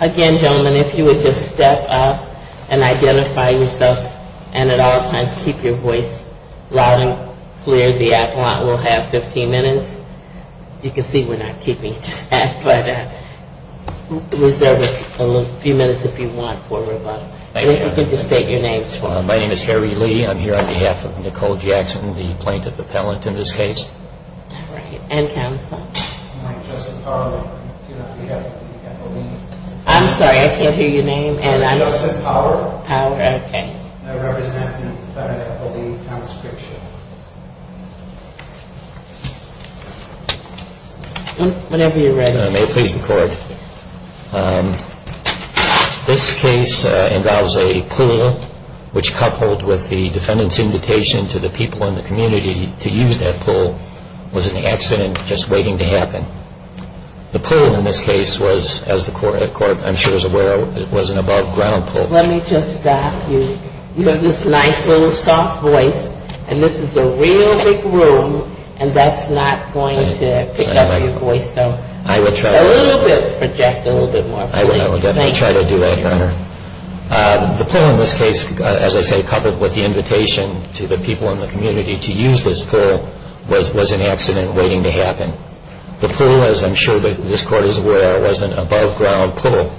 Again, gentlemen, if you would just step up and identify yourself and at all times keep your voice loud and clear. The appellant will have 15 minutes. You can see we're not keeping track, but reserve a few minutes if you want for rebuttal. If you could just state your names for us. My name is Harry Lee. I'm here on behalf of Nicole Jackson, the plaintiff appellant in this case. And counsel. I'm Justin Power. I'm here on behalf of the appellee. I'm sorry, I can't hear your name. I'm Justin Power. Power, okay. Whenever you're ready. May it please the court. This case involves a pool which coupled with the defendant's invitation to the people in the community to use that pool was an accident just waiting to happen. The pool in this case was, as the court I'm sure is aware, was an above ground pool. Let me just stop you. You have this nice little soft voice and this is a real big room and that's not going to pick up your voice. So a little bit, project a little bit more. I will definitely try to do that, Your Honor. The pool in this case, as I say, coupled with the invitation to the people in the community to use this pool was an accident waiting to happen. The pool, as I'm sure this court is aware, was an above ground pool,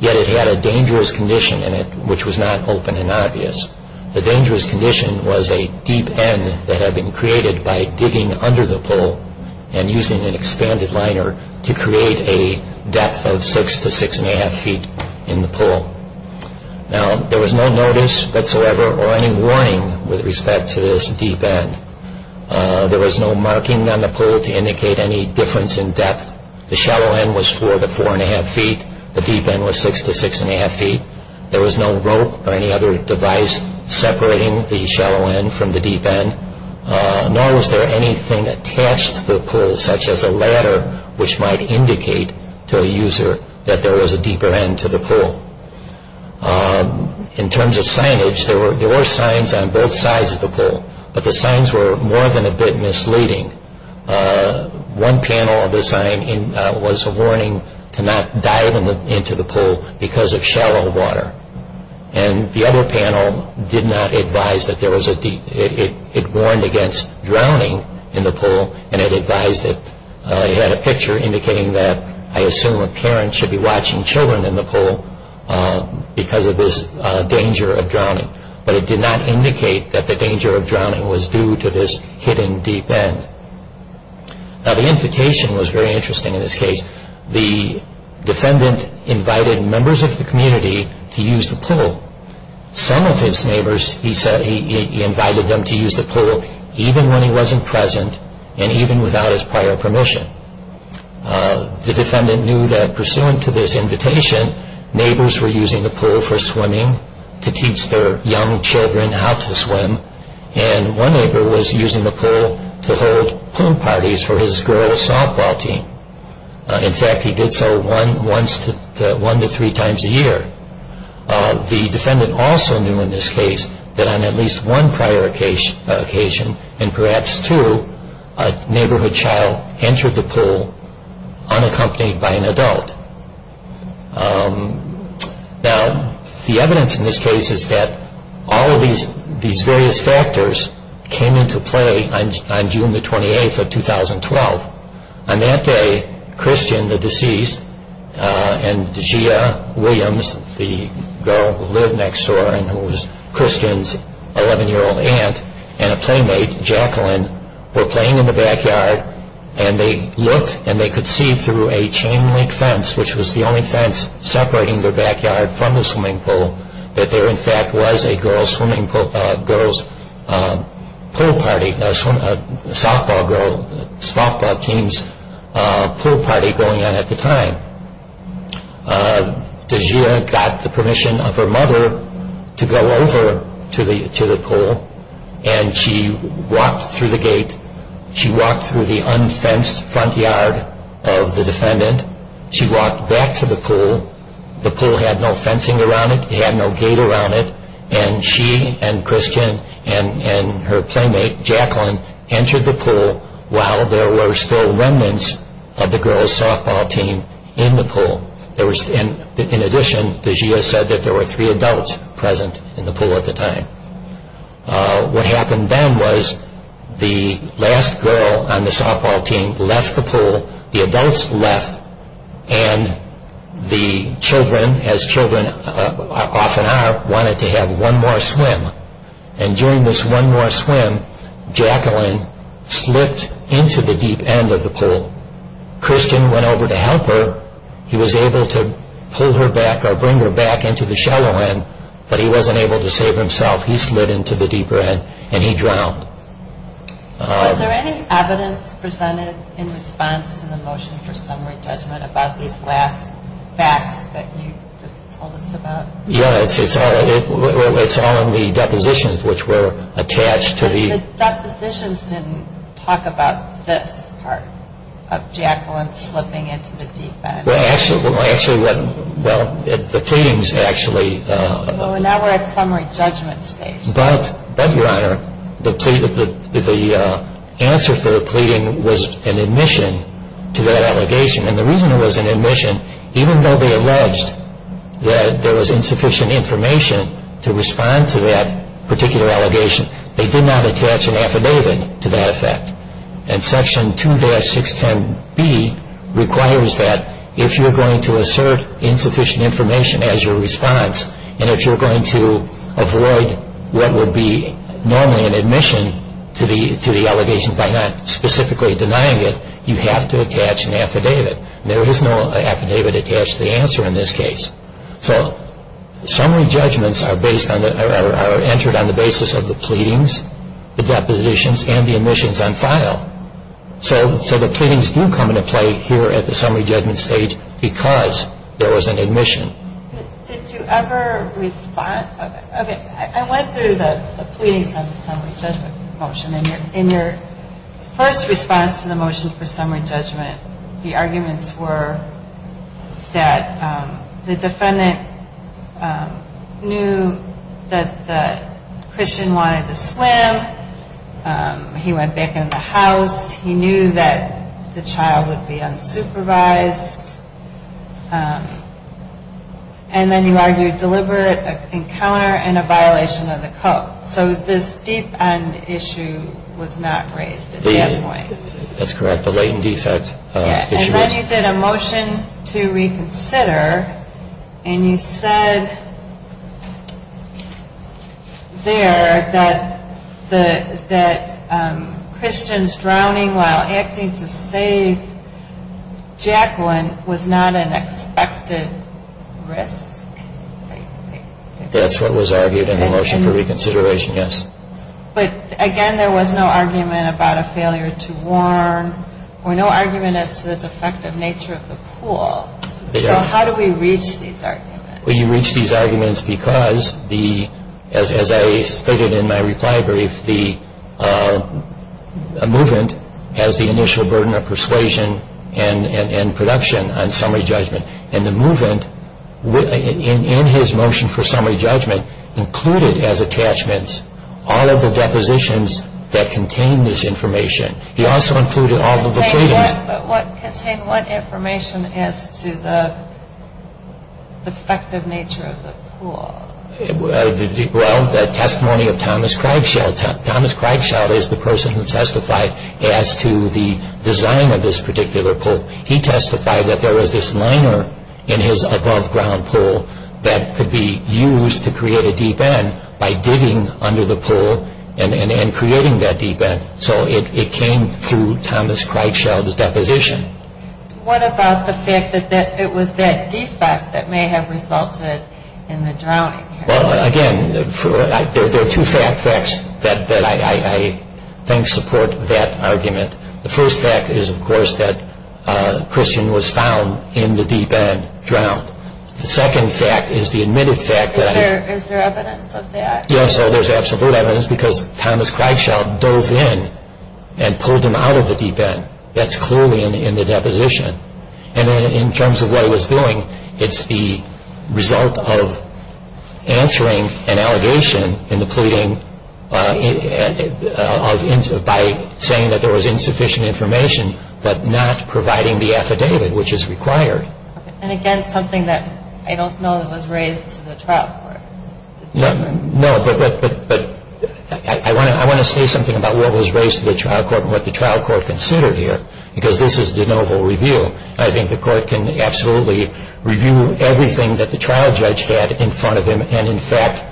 yet it had a dangerous condition in it which was not open and obvious. The dangerous condition was a deep end that had been created by digging under the pool and using an expanded liner to create a depth of 6 to 6 1⁄2 feet in the pool. Now, there was no notice whatsoever or any warning with respect to this deep end. There was no marking on the pool to indicate any difference in depth. The shallow end was 4 to 4 1⁄2 feet. The deep end was 6 to 6 1⁄2 feet. There was no rope or any other device separating the shallow end from the deep end, nor was there anything attached to the pool such as a ladder which might indicate to a user that there was a deeper end to the pool. In terms of signage, there were signs on both sides of the pool, but the signs were more than a bit misleading. One panel of the sign was a warning to not dive into the pool because of shallow water, and the other panel did not advise that there was a deep end. It warned against drowning in the pool and it advised it. It had a picture indicating that I assume a parent should be watching children in the pool because of this danger of drowning, but it did not indicate that the danger of drowning was due to this hidden deep end. Now, the invitation was very interesting in this case. The defendant invited members of the community to use the pool. Some of his neighbors, he said, he invited them to use the pool even when he wasn't present and even without his prior permission. The defendant knew that pursuant to this invitation, neighbors were using the pool for swimming to teach their young children how to swim, and one neighbor was using the pool to hold pool parties for his girl's softball team. In fact, he did so one to three times a year. The defendant also knew in this case that on at least one prior occasion, and perhaps two, a neighborhood child entered the pool unaccompanied by an adult. Now, the evidence in this case is that all of these various factors came into play on June the 28th of 2012. On that day, Christian, the deceased, and Gia Williams, the girl who lived next door and who was Christian's 11-year-old aunt and a playmate, Jacqueline, were playing in the backyard and they looked and they could see through a chain link fence, which was the only fence separating their backyard from the swimming pool, that there in fact was a girl's pool party, a softball team's pool party going on at the time. Gia got the permission of her mother to go over to the pool, and she walked through the gate, she walked through the unfenced front yard of the defendant, she walked back to the pool, the pool had no fencing around it, it had no gate around it, and she and Christian and her playmate Jacqueline entered the pool while there were still remnants of the girl's softball team in the pool. In addition, Gia said that there were three adults present in the pool at the time. What happened then was the last girl on the softball team left the pool, the adults left, and the children, as children often are, wanted to have one more swim. And during this one more swim, Jacqueline slipped into the deep end of the pool. Christian went over to help her, he was able to pull her back or bring her back into the shallow end, but he wasn't able to save himself, he slid into the deeper end and he drowned. Was there any evidence presented in response to the motion for summary judgment about these last facts that you just told us about? Yeah, it's all in the depositions which were attached to the... But the depositions didn't talk about this part of Jacqueline slipping into the deep end. Well, actually, the pleadings actually... Well, now we're at summary judgment stage. But, Your Honor, the answer for the pleading was an admission to that allegation. And the reason it was an admission, even though they alleged that there was insufficient information to respond to that particular allegation, they did not attach an affidavit to that effect. And Section 2-610B requires that if you're going to assert insufficient information as your response and if you're going to avoid what would be normally an admission to the allegation by not specifically denying it, you have to attach an affidavit. There is no affidavit attached to the answer in this case. So summary judgments are entered on the basis of the pleadings, the depositions, and the admissions on file. So the pleadings do come into play here at the summary judgment stage because there was an admission. Did you ever respond... Okay, I went through the pleadings on the summary judgment motion. In your first response to the motion for summary judgment, the arguments were that the defendant knew that the Christian wanted to swim. He went back in the house. He knew that the child would be unsupervised. And then you argued deliberate encounter and a violation of the code. So this deep-end issue was not raised at that point. That's correct, the latent defect issue. And then you did a motion to reconsider, and you said there that Christian's drowning while acting to save Jacqueline was not an expected risk. That's what was argued in the motion for reconsideration, yes. But again, there was no argument about a failure to warn or no argument as to the defective nature of the pool. So how do we reach these arguments? We reach these arguments because, as I stated in my reply brief, the movement has the initial burden of persuasion and production on summary judgment. And the movement in his motion for summary judgment included as attachments all of the depositions that contain this information. He also included all of the pleadings. But what information as to the defective nature of the pool? Well, the testimony of Thomas Krebschild. Thomas Krebschild is the person who testified as to the design of this particular pool. He testified that there was this liner in his above-ground pool that could be used to create a deep-end by digging under the pool and creating that deep-end. So it came through Thomas Krebschild's deposition. What about the fact that it was that defect that may have resulted in the drowning? Well, again, there are two facts that I think support that argument. The first fact is, of course, that Christian was found in the deep-end, drowned. The second fact is the admitted fact that... Is there evidence of that? Yes, there's absolute evidence because Thomas Krebschild dove in and pulled him out of the deep-end. That's clearly in the deposition. And in terms of what he was doing, it's the result of answering an allegation in the pleading by saying that there was insufficient information but not providing the affidavit, which is required. And again, something that I don't know that was raised to the trial court. No, but I want to say something about what was raised to the trial court and what the trial court considered here because this is de novo review. I think the court can absolutely review everything that the trial judge had in front of him and, in fact,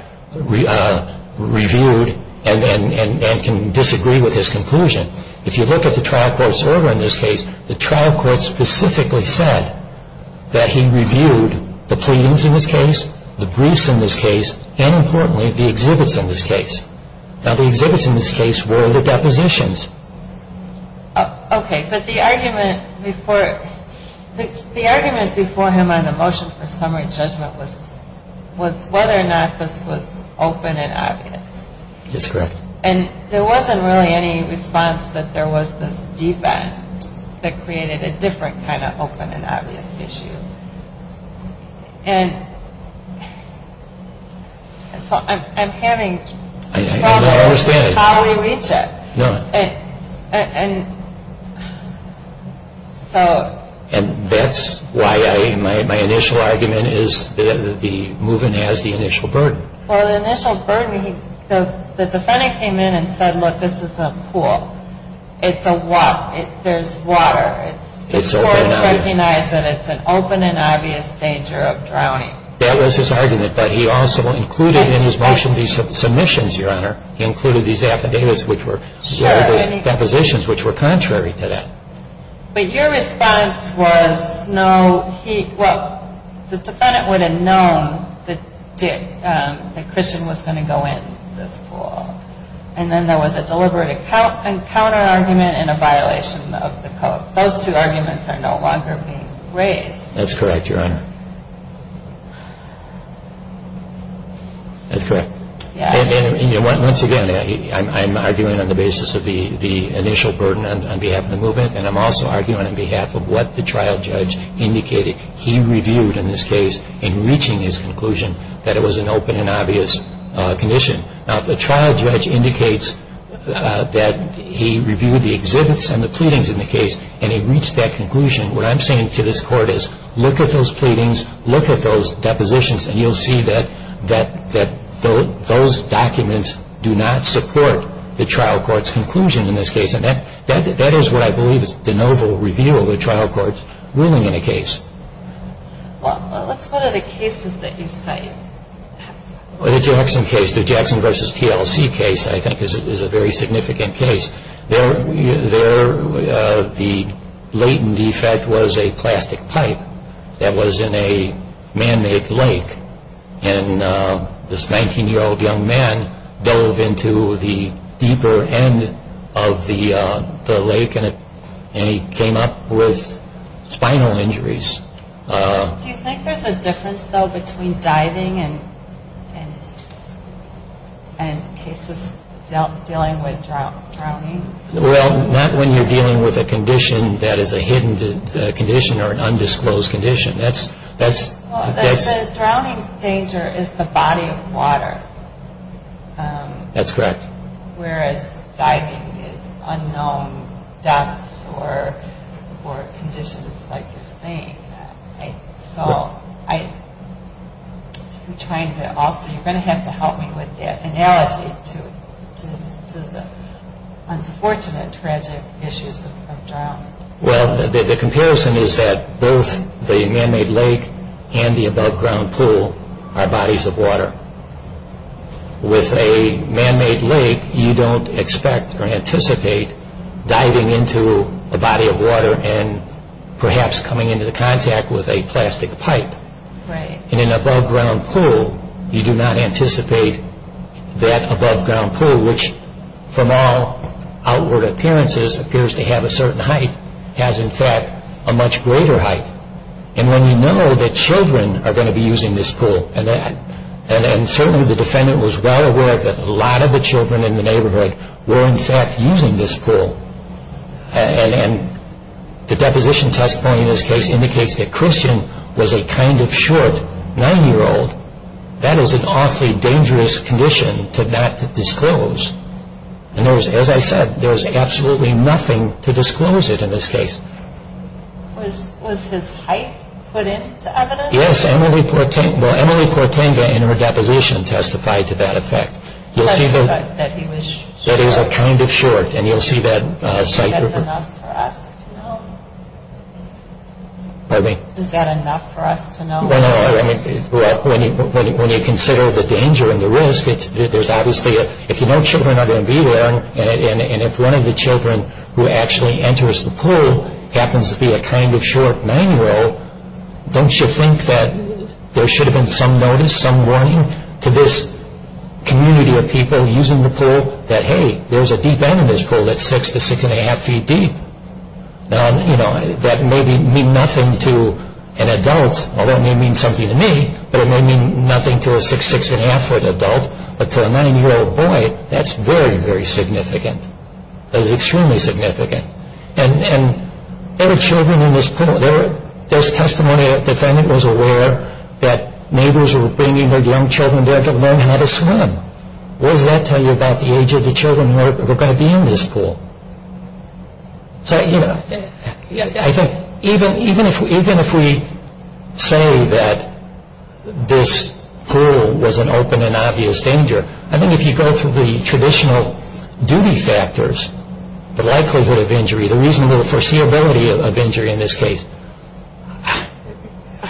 reviewed and can disagree with his conclusion. If you look at the trial court's order in this case, the trial court specifically said that he reviewed the pleadings in this case, the briefs in this case, and, importantly, the exhibits in this case. Now, the exhibits in this case were the depositions. Okay, but the argument before him on the motion for summary judgment was whether or not this was open and obvious. That's correct. And there wasn't really any response that there was this defense that created a different kind of open and obvious issue. And so I'm having trouble with how we reach it. No, I understand. And that's why my initial argument is that the movement has the initial burden. Well, the initial burden, the defendant came in and said, look, this is a pool. It's a walk. There's water. It's open and obvious. The court recognized that it's an open and obvious danger of drowning. That was his argument, but he also included in his motion these submissions, Your Honor. He included these affidavits, which were depositions, which were contrary to that. But your response was no, he, well, the defendant would have known that Christian was going to go in this pool. And then there was a deliberate encounter argument and a violation of the code. Those two arguments are no longer being raised. That's correct, Your Honor. That's correct. Once again, I'm arguing on the basis of the initial burden on behalf of the movement, and I'm also arguing on behalf of what the trial judge indicated. He reviewed in this case in reaching his conclusion that it was an open and obvious condition. Now, if a trial judge indicates that he reviewed the exhibits and the pleadings in the case and he reached that conclusion, what I'm saying to this court is look at those pleadings, look at those depositions, and you'll see that those documents do not support the trial court's conclusion in this case. And that is what I believe is de novo review of a trial court's ruling in a case. Well, let's go to the cases that you cite. The Jackson case, the Jackson v. TLC case, I think is a very significant case. The latent defect was a plastic pipe that was in a man-made lake, and this 19-year-old young man dove into the deeper end of the lake, and he came up with spinal injuries. Do you think there's a difference, though, between diving and cases dealing with drowning? Well, not when you're dealing with a condition that is a hidden condition or an undisclosed condition. The drowning danger is the body of water. That's correct. Whereas diving is unknown deaths or conditions like you're saying. So I'm trying to also, you're going to have to help me with that analogy to the unfortunate, tragic issues of drowning. Well, the comparison is that both the man-made lake and the above-ground pool are bodies of water. With a man-made lake, you don't expect or anticipate diving into a body of water and perhaps coming into contact with a plastic pipe. Right. In an above-ground pool, you do not anticipate that above-ground pool, which from all outward appearances appears to have a certain height, has in fact a much greater height. And when you know that children are going to be using this pool, and certainly the defendant was well aware that a lot of the children in the neighborhood were in fact using this pool, and the deposition testimony in this case indicates that Christian was a kind of short 9-year-old, that is an awfully dangerous condition to not disclose. And as I said, there's absolutely nothing to disclose it in this case. Was his height put into evidence? Yes, Emily Portenga in her deposition testified to that effect. That he was short. That he was kind of short, and you'll see that site. Is that enough for us to know? Pardon me? Is that enough for us to know? No, no, no. When you consider the danger and the risk, there's obviously, if you know children are going to be there, and if one of the children who actually enters the pool happens to be a kind of short 9-year-old, don't you think that there should have been some notice, some warning to this community of people using the pool, that hey, there's a deep end in this pool that's 6 to 6 1⁄2 feet deep? That may mean nothing to an adult, although it may mean something to me, but it may mean nothing to a 6 to 6 1⁄2 foot adult, but to a 9-year-old boy, that's very, very significant. That is extremely significant. And there are children in this pool. There's testimony that the defendant was aware that neighbors were bringing their young children there to learn how to swim. What does that tell you about the age of the children who are going to be in this pool? So, you know, I think even if we say that this pool was an open and obvious danger, I think if you go through the traditional duty factors, the likelihood of injury, the reasonable foreseeability of injury in this case,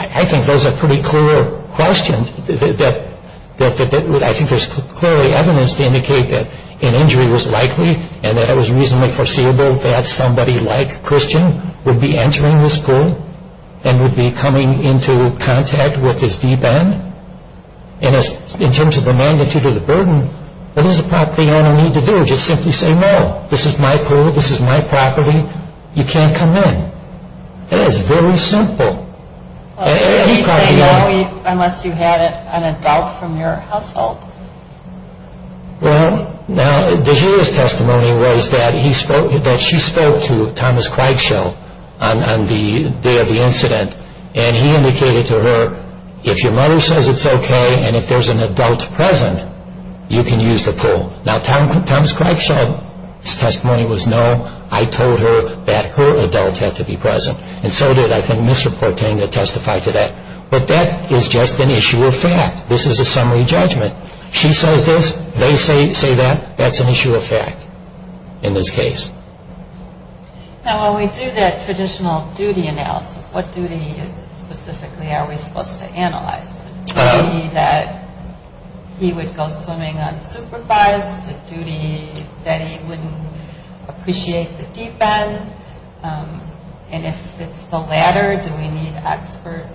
I think those are pretty clear questions. I think there's clearly evidence to indicate that an injury was likely and that it was reasonably foreseeable that somebody like Christian would be entering this pool and would be coming into contact with this deep end. And in terms of the magnitude of the burden, what does a property owner need to do? Just simply say, no, this is my pool, this is my property, you can't come in. It is very simple. Unless you had an adult from your household. Well, now, DeGioia's testimony was that she spoke to Thomas Craigshell on the day of the incident and he indicated to her, if your mother says it's okay and if there's an adult present, you can use the pool. Now, Thomas Craigshell's testimony was, no, I told her that her adult had to be present and so did, I think, Mr. Portanga testify to that. But that is just an issue of fact. This is a summary judgment. She says this, they say that, that's an issue of fact in this case. Now, when we do that traditional duty analysis, what duty specifically are we supposed to analyze? Is it duty that he would go swimming unsupervised? Is it duty that he wouldn't appreciate the deep end? And if it's the latter, do we need expert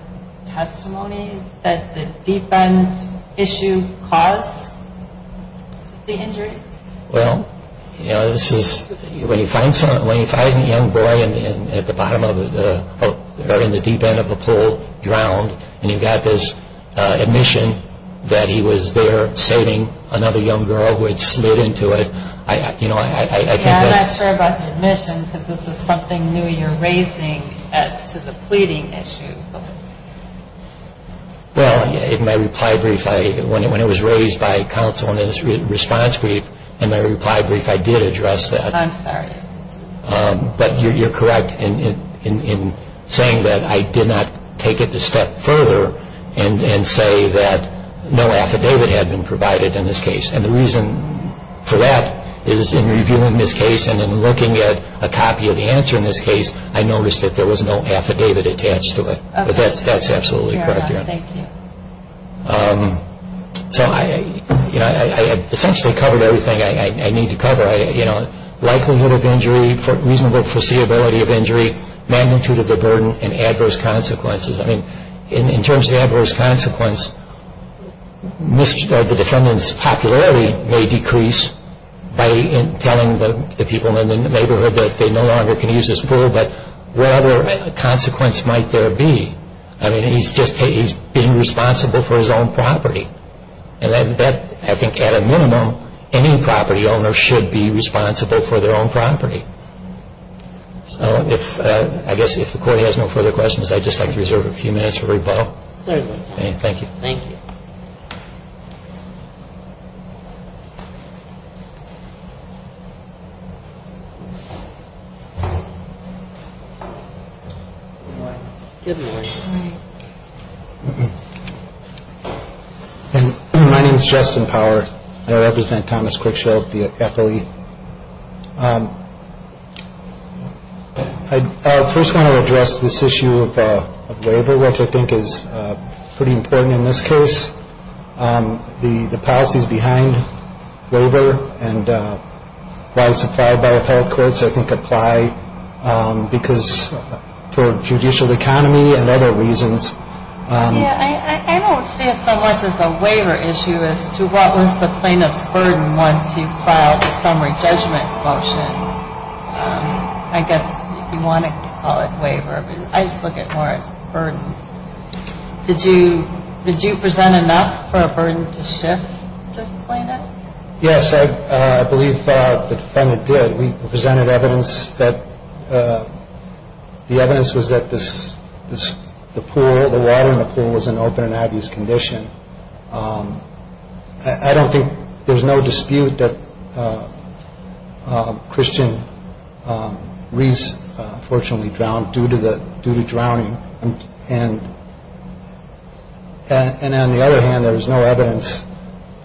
testimony that the deep end issue caused the injury? Well, you know, this is, when you find someone, when you find a young boy at the bottom of a, or in the deep end of a pool drowned and you've got this admission that he was there saving another young girl who had slid into it, you know, I think that... I don't know if that's a good question because this is something new you're raising as to the pleading issue. Well, in my reply brief, when it was raised by counsel in his response brief, in my reply brief, I did address that. I'm sorry. But you're correct in saying that I did not take it a step further and say that no affidavit had been provided in this case. And the reason for that is in reviewing this case and in looking at a copy of the answer in this case, I noticed that there was no affidavit attached to it. But that's absolutely correct. Thank you. So, you know, I essentially covered everything I need to cover, you know, likelihood of injury, reasonable foreseeability of injury, magnitude of the burden, and adverse consequences. I mean, in terms of adverse consequence, the defendant's popularity may decrease by telling the people in the neighborhood that they no longer can use this pool, but what other consequence might there be? I mean, he's just being responsible for his own property. And that, I think, at a minimum, any property owner should be responsible for their own property. So I guess if the Court has no further questions, I'd just like to reserve a few minutes for rebuttal. Certainly. Thank you. Thank you. Good morning. Good morning. My name is Justin Power. I represent Thomas Critchfield, the FLE. I first want to address this issue of waiver, which I think is pretty important in this case. The policies behind waiver and why it's applied by appellate courts, I think, apply because for judicial economy and other reasons. I don't see it so much as a waiver issue as to what was the plaintiff's burden once he filed a summary judgment motion. I guess if you want to call it waiver. I just look at it more as a burden. Did you present enough for a burden to shift the plaintiff? Yes, I believe the defendant did. We presented evidence that the evidence was that the pool, the water in the pool, was in open and obvious condition. I don't think there's no dispute that Christian Reese fortunately drowned due to drowning. And on the other hand, there was no evidence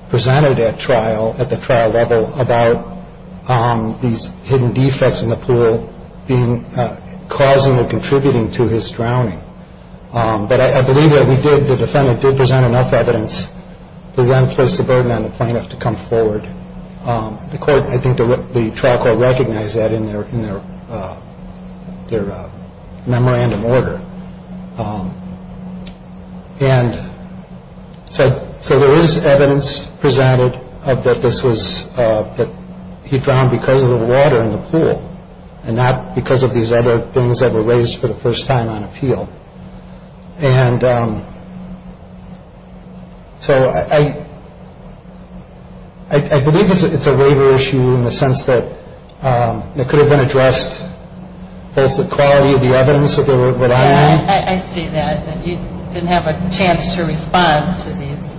presented at trial, at the trial level, about these hidden defects in the pool being causing or contributing to his drowning. But I believe that we did, the defendant did present enough evidence to then place the burden on the plaintiff to come forward. The court, I think the trial court recognized that in their memorandum order. And so there is evidence presented of that this was that he drowned because of the water in the pool and not because of these other things that were raised for the first time on appeal. And so I believe it's a waiver issue in the sense that it could have been addressed, both the quality of the evidence that they were relying on. I see that, that you didn't have a chance to respond to these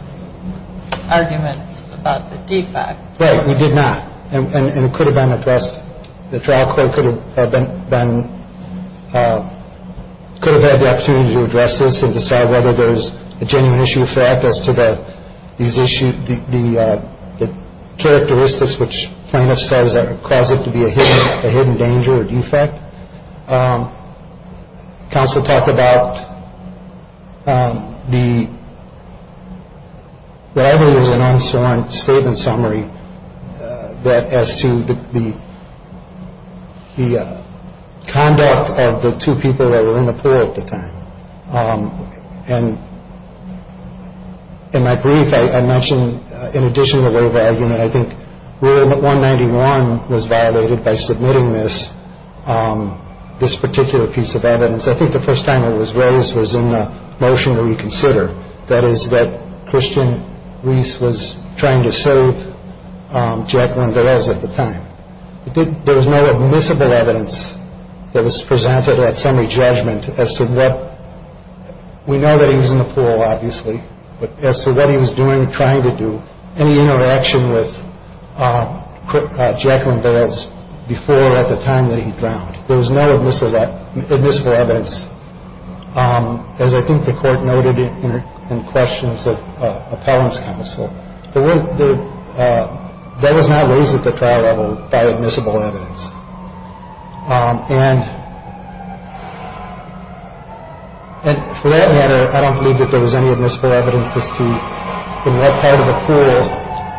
arguments about the defects. Right, we did not. And it could have been addressed. The trial court could have been, could have had the opportunity to address this and decide whether there's a genuine issue of fact as to the characteristics which plaintiff says are causing it to be a hidden danger or defect. Counsel talked about the, what I believe was an unswerving statement summary that as to the conduct of the two people that were in the pool at the time. And in my brief, I mentioned in addition to the waiver argument, I think where 191 was violated by submitting this, this particular piece of evidence. I think the first time it was raised was in the motion to reconsider. That is that Christian Reese was trying to save Jacqueline Velez at the time. There was no admissible evidence that was presented at summary judgment as to what. We know that he was in the pool, obviously. But as to what he was doing, trying to do, any interaction with Jacqueline Velez before at the time that he drowned. There was no admissible evidence. As I think the court noted in questions of appellant's counsel, that was not raised at the trial level by admissible evidence. And. And for that matter, I don't believe that there was any admissible evidence as to what part of the pool.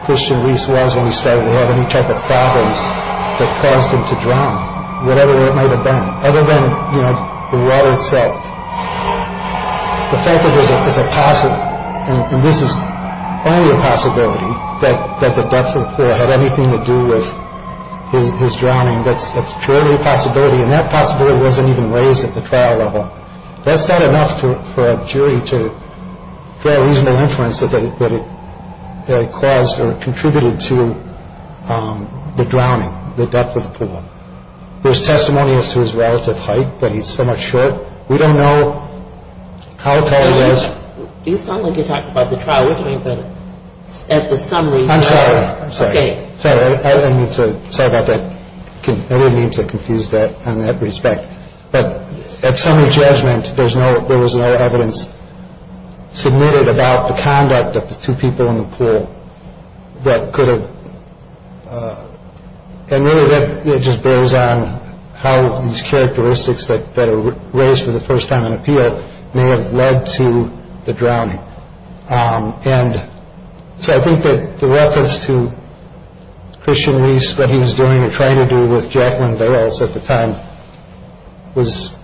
Christian Reese was when he started to have any type of problems that caused him to drown, whatever it might have been, other than the water itself. The fact of it is, it's a possible. This is only a possibility that the depth of the pool had anything to do with his drowning. That's purely a possibility. And that possibility wasn't even raised at the trial level. That's not enough for a jury to draw a reasonable inference that it caused or contributed to the drowning. The depth of the pool. There's testimony as to his relative height, but he's so much short. We don't know how tall he was. You sound like you're talking about the trial, which means that at the summary. I'm sorry. I'm sorry. I'm sorry about that. I didn't mean to confuse that in that respect. But at summary judgment, there was no evidence submitted about the conduct of the two people in the pool that could have. And it just bears on how these characteristics that are raised for the first time in appeal may have led to the drowning. And so I think that the reference to Christian Reese, what he was doing or trying to do with Jacqueline Bales at the time was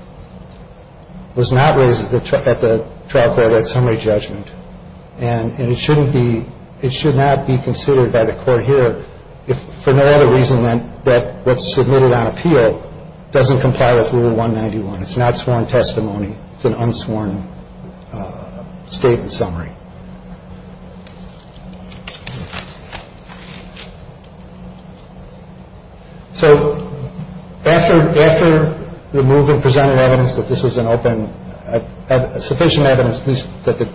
was not raised at the trial court at summary judgment. And it shouldn't be. It should not be considered by the court here if for no other reason than that. What's submitted on appeal doesn't comply with Rule one ninety one. It's not sworn testimony. It's an unsworn statement summary. So after after the movement presented evidence that this was an open sufficient evidence, at least that the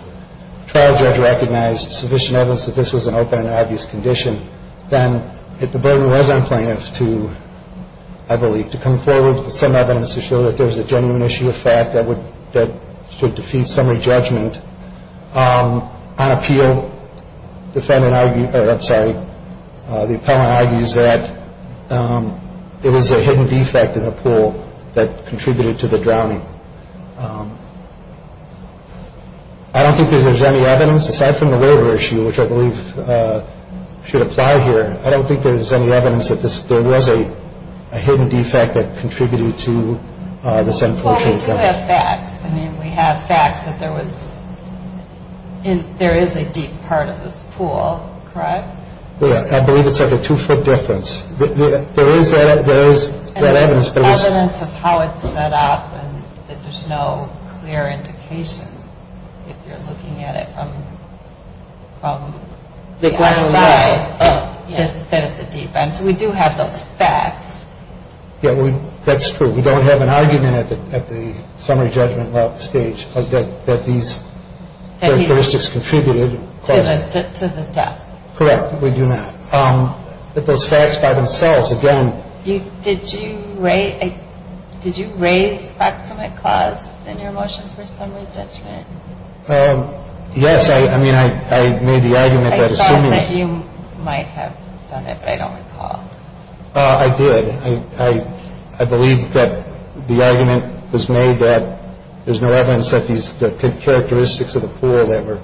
trial judge recognized sufficient evidence that this was an open and obvious condition, then the burden was on plaintiffs to, I believe, to come forward with some evidence to show that there was a genuine issue of fact that would that should defeat summary judgment. On appeal, defendant, I'm sorry, the appellant argues that there was a hidden defect in the pool that contributed to the drowning. I don't think there's any evidence aside from the water issue, which I believe should apply here. I don't think there's any evidence that there was a hidden defect that contributed to this unfortunate. I mean, we have facts that there was in there is a deep part of this pool, correct? I believe it's like a two foot difference. There is that there is evidence of how it's set up and there's no clear indication. If you're looking at it from the ground, it's a defense. We do have those facts. Yeah, that's true. We don't have an argument at the at the summary judgment stage that these characteristics contributed to the death. Correct. We do not get those facts by themselves. Again, you did you rate. Did you raise facts of my class in your motion for summary judgment? Yes. I mean, I made the argument that you might have done it. I don't recall. I did. I believe that the argument was made that there's no evidence that these characteristics of the pool that were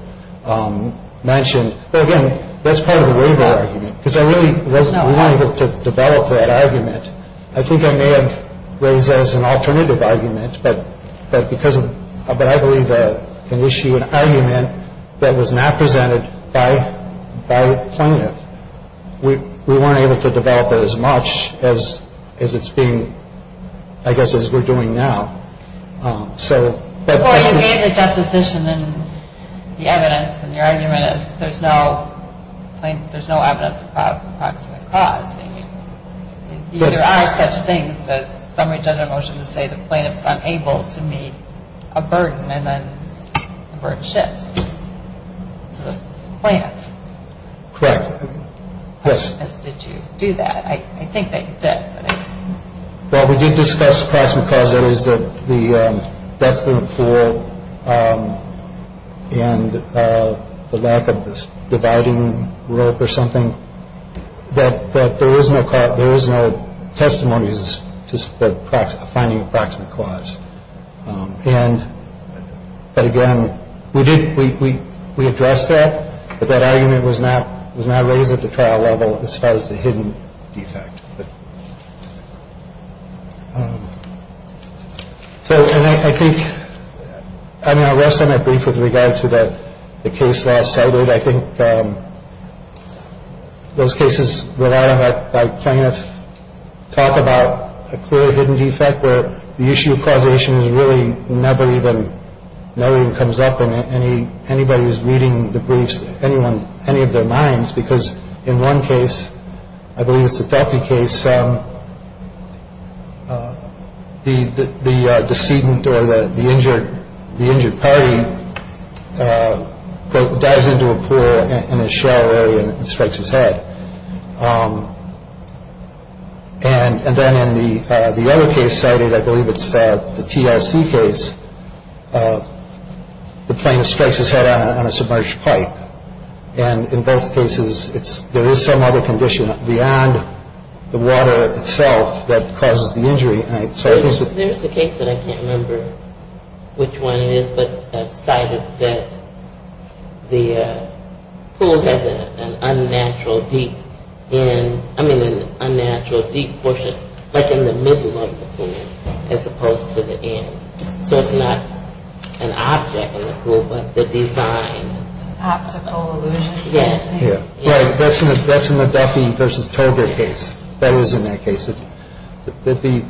mentioned. Again, that's part of the waiver argument because I really wasn't able to develop that argument. I think I may have raised as an alternative argument. But because of that, I believe that an issue, an argument that was not presented by by plaintiff, we weren't able to develop it as much as as it's being, I guess, as we're doing now. So that position in the evidence and your argument is there's no there's no evidence of approximate cause. There are such things as summary judgment motion to say the plaintiff's unable to meet a burden and then the burden shifts. Plaintiff. Correct. Yes. Did you do that? I think they did. Well, we did discuss approximate cause. That is that the depth of the pool and the lack of this dividing rope or something that that there is no cause. There is no testimonies to find approximate cause. And again, we did. We we we addressed that. But that argument was not was not raised at the trial level as far as the hidden defect. So I think I mean, I rest on a brief with regard to the case last cited. I think those cases rely on that by plaintiff. Talk about a clear, hidden defect where the issue of causation is really never even knowing comes up in any. Anybody who's reading the briefs, anyone, any of their minds, because in one case, I believe it's a therapy case. So the the decedent or the injured, the injured party dives into a pool and a shower area and strikes his head. And then in the other case cited, I believe it's the TLC case. The plaintiff strikes his head on a submerged pipe. And in both cases, it's there is some other condition beyond the water itself that causes the injury. So there's the case that I can't remember which one it is. But I decided that the pool has an unnatural, deep and I mean, an unnatural, deep portion. But in the middle of the pool, as opposed to the end. So it's not an object in the pool, but the design. Optical illusion. Yeah. Yeah. Right. That's in the Duffy versus Tolbert case. That is in that case. The deeper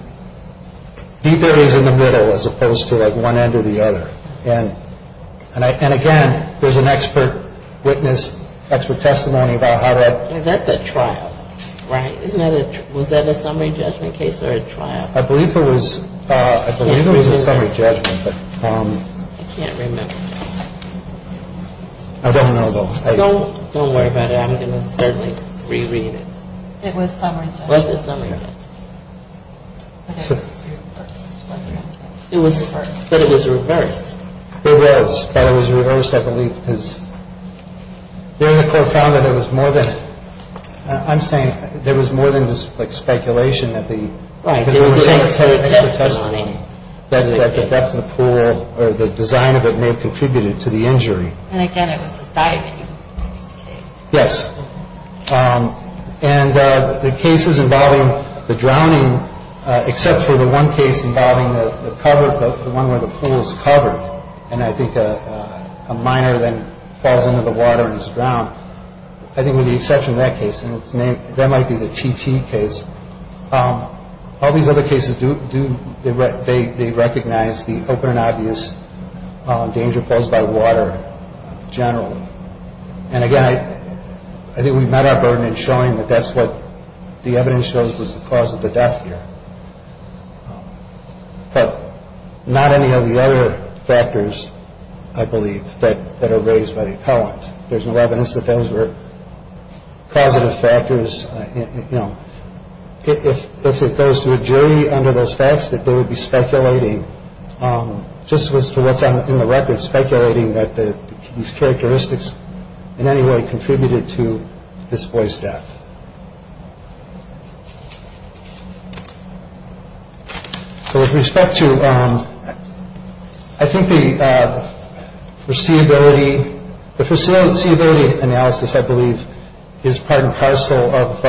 is in the middle as opposed to like one end or the other. And and again, there's an expert witness, expert testimony about how that. That's a trial. Right. Isn't it? Was that a summary judgment case or a trial? I believe it was. I believe it was a summary judgment. But I can't remember. I don't know, though. Don't don't worry about it. I'm going to certainly reread it. It was summary. Was it summary? It was. But it was reversed. It was. But it was reversed, I believe, because the court found that it was more than I'm saying. There was more than just like speculation that the expert testimony that the depth of the pool or the design of it may have contributed to the injury. And again, it was a diving. Yes. And the cases involving the drowning, except for the one case involving the cover, the one where the pool is covered. And I think a minor then falls into the water and is drowned. I think with the exception of that case and its name, that might be the TT case. All these other cases do. Do they recognize the open and obvious danger posed by water generally? And again, I think we've met our burden in showing that that's what the evidence shows was the cause of the death here. But not any of the other factors, I believe, that are raised by the appellant. There's no evidence that those were positive factors. You know, if it goes to a jury under those facts that they would be speculating just for what's in the record, speculating that these characteristics in any way contributed to this boy's death. So with respect to, I think the foreseeability analysis, I believe, is part and parcel of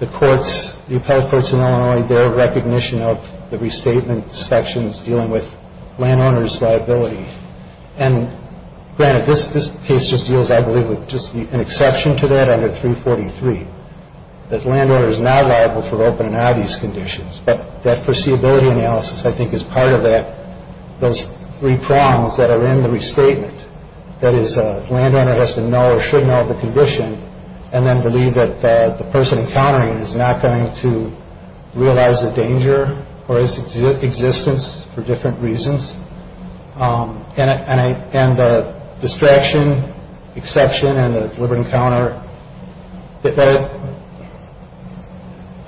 the courts, the appellate courts in Illinois, their recognition of the restatement sections dealing with landowner's liability. And granted, this case just deals, I believe, with just an exception to that under 343, that landowner is not liable for open and obvious conditions. But that foreseeability analysis, I think, is part of that, those three prongs that are in the restatement. That is, landowner has to know or should know the condition and then believe that the person encountering it is not going to realize the danger or its existence for different reasons. And the distraction, exception, and the deliberate encounter,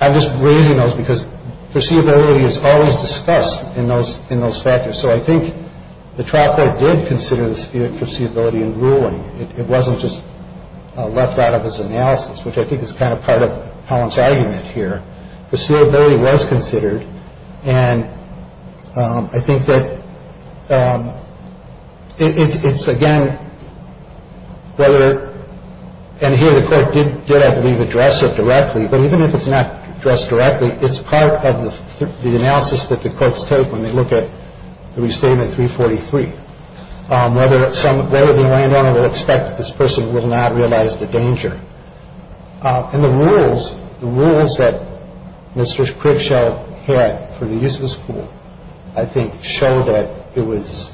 I'm just raising those because foreseeability is always discussed in those factors. So I think the trial court did consider the dispute in foreseeability in ruling. It wasn't just left out of its analysis, which I think is kind of part of the appellant's argument here. Foreseeability was considered, and I think that it's, again, whether, and here the court did, I believe, address it directly, but even if it's not addressed directly, it's part of the analysis that the courts take when they look at the restatement 343, whether the landowner will expect that this person will not realize the danger. And the rules, the rules that Mr. Cribshaw had for the use of his pool, I think show that it was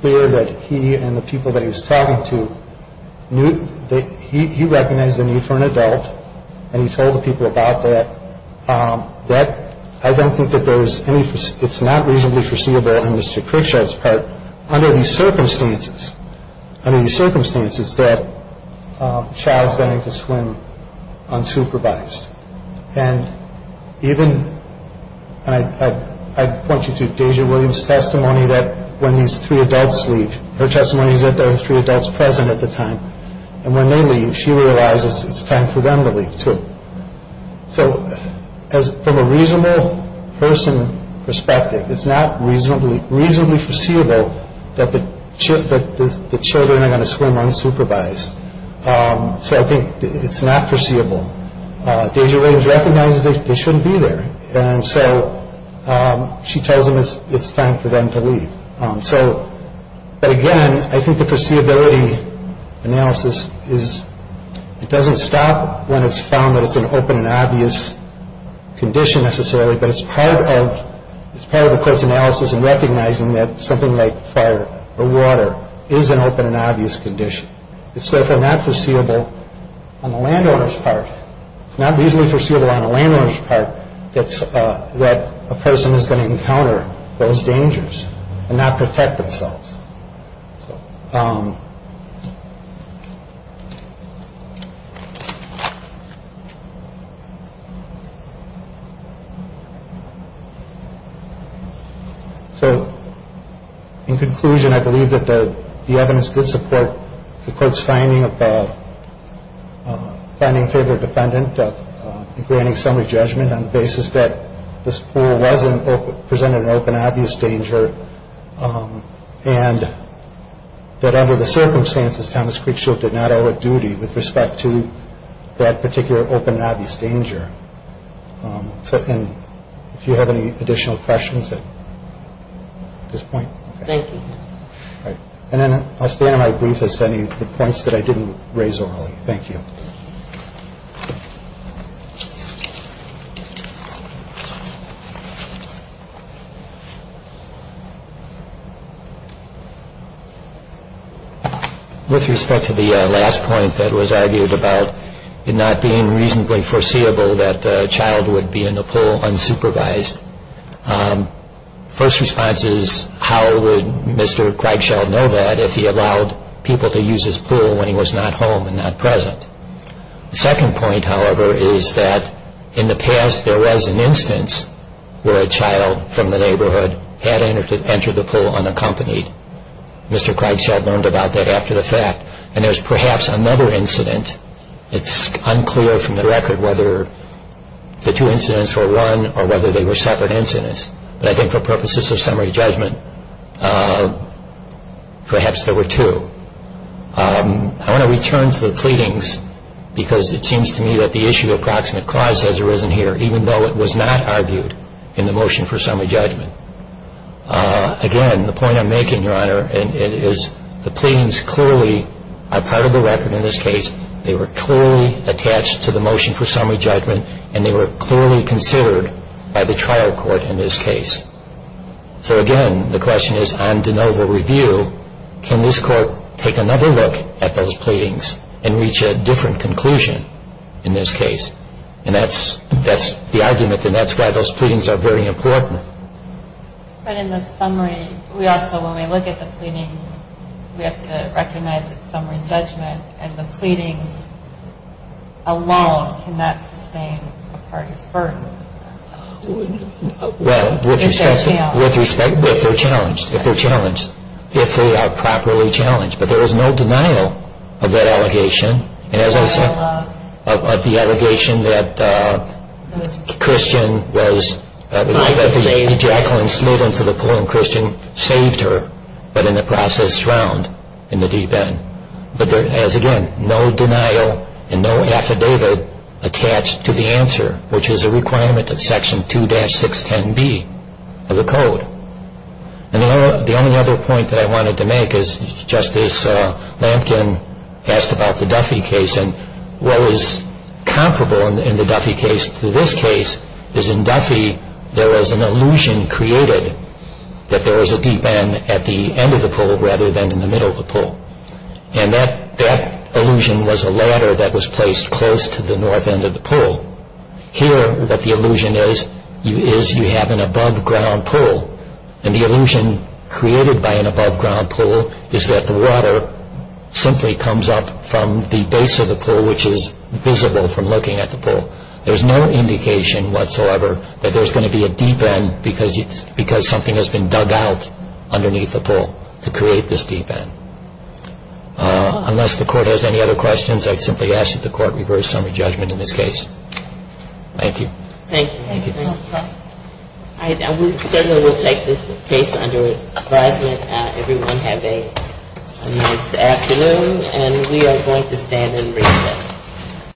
clear that he and the people that he was talking to, he recognized the need for an adult and he told the people about that. I don't think that there was any, it's not reasonably foreseeable on Mr. Cribshaw's part. But under these circumstances, under these circumstances, that child is going to swim unsupervised. And even, and I point you to Deja Williams' testimony that when these three adults leave, her testimony is that there are three adults present at the time, and when they leave, she realizes it's time for them to leave too. So from a reasonable person perspective, it's not reasonably, reasonably foreseeable that the children are going to swim unsupervised. So I think it's not foreseeable. Deja Williams recognizes they shouldn't be there. And so she tells them it's time for them to leave. So, but again, I think the foreseeability analysis is, it doesn't stop when it's found that it's an open and obvious condition necessarily, but it's part of the court's analysis in recognizing that something like fire or water is an open and obvious condition. It's therefore not foreseeable on the landowner's part. It's not reasonably foreseeable on the landowner's part that a person is going to encounter those dangers and not protect themselves. So, in conclusion, I believe that the evidence did support the court's finding of, finding a favored defendant, granting summary judgment on the basis that this pool presented an open and obvious danger, and that under the circumstances, Thomas Creek Shield did not owe a duty with respect to that particular open and obvious danger. So, and if you have any additional questions at this point. Thank you. All right. And then I'll stay on my brief as to any of the points that I didn't raise orally. Thank you. Thank you. With respect to the last point that was argued about it not being reasonably foreseeable that a child would be in the pool unsupervised, first response is, how would Mr. Kreigschild know that if he allowed people to use his pool when he was not home and not present? The second point, however, is that in the past there was an instance where a child from the neighborhood had entered the pool unaccompanied. Mr. Kreigschild learned about that after the fact. And there's perhaps another incident. It's unclear from the record whether the two incidents were one or whether they were separate incidents. But I think for purposes of summary judgment, perhaps there were two. I want to return to the pleadings because it seems to me that the issue of proximate cause has arisen here, even though it was not argued in the motion for summary judgment. Again, the point I'm making, Your Honor, is the pleadings clearly are part of the record in this case. They were clearly attached to the motion for summary judgment, and they were clearly considered by the trial court in this case. So again, the question is, on de novo review, can this court take another look at those pleadings and reach a different conclusion in this case? And that's the argument, and that's why those pleadings are very important. But in the summary, we also, when we look at the pleadings, we have to recognize that it's summary judgment, and the pleadings alone cannot sustain a party's burden. Well, with respect, if they're challenged, if they are properly challenged. But there is no denial of that allegation. And as I said, of the allegation that Christian was, Jacqueline Smith into the pool, and Christian saved her, but in the process, drowned in the deep end. But there is, again, no denial and no affidavit attached to the answer, which is a requirement of Section 2-610B of the code. And the only other point that I wanted to make is, Justice Lamkin asked about the Duffy case, and what is comparable in the Duffy case to this case is, in Duffy, there is an illusion created that there is a deep end at the end of the pool, rather than in the middle of the pool. And that illusion was a ladder that was placed close to the north end of the pool. Here, what the illusion is, is you have an above-ground pool, and the illusion created by an above-ground pool is that the water simply comes up from the base of the pool, which is visible from looking at the pool. There's no indication whatsoever that there's going to be a deep end because something has been dug out underneath the pool to create this deep end. Unless the Court has any other questions, I'd simply ask that the Court reverse some of the judgment in this case. Thank you. Thank you. Certainly, we'll take this case under advisement. Everyone have a nice afternoon, and we are going to stand and recess.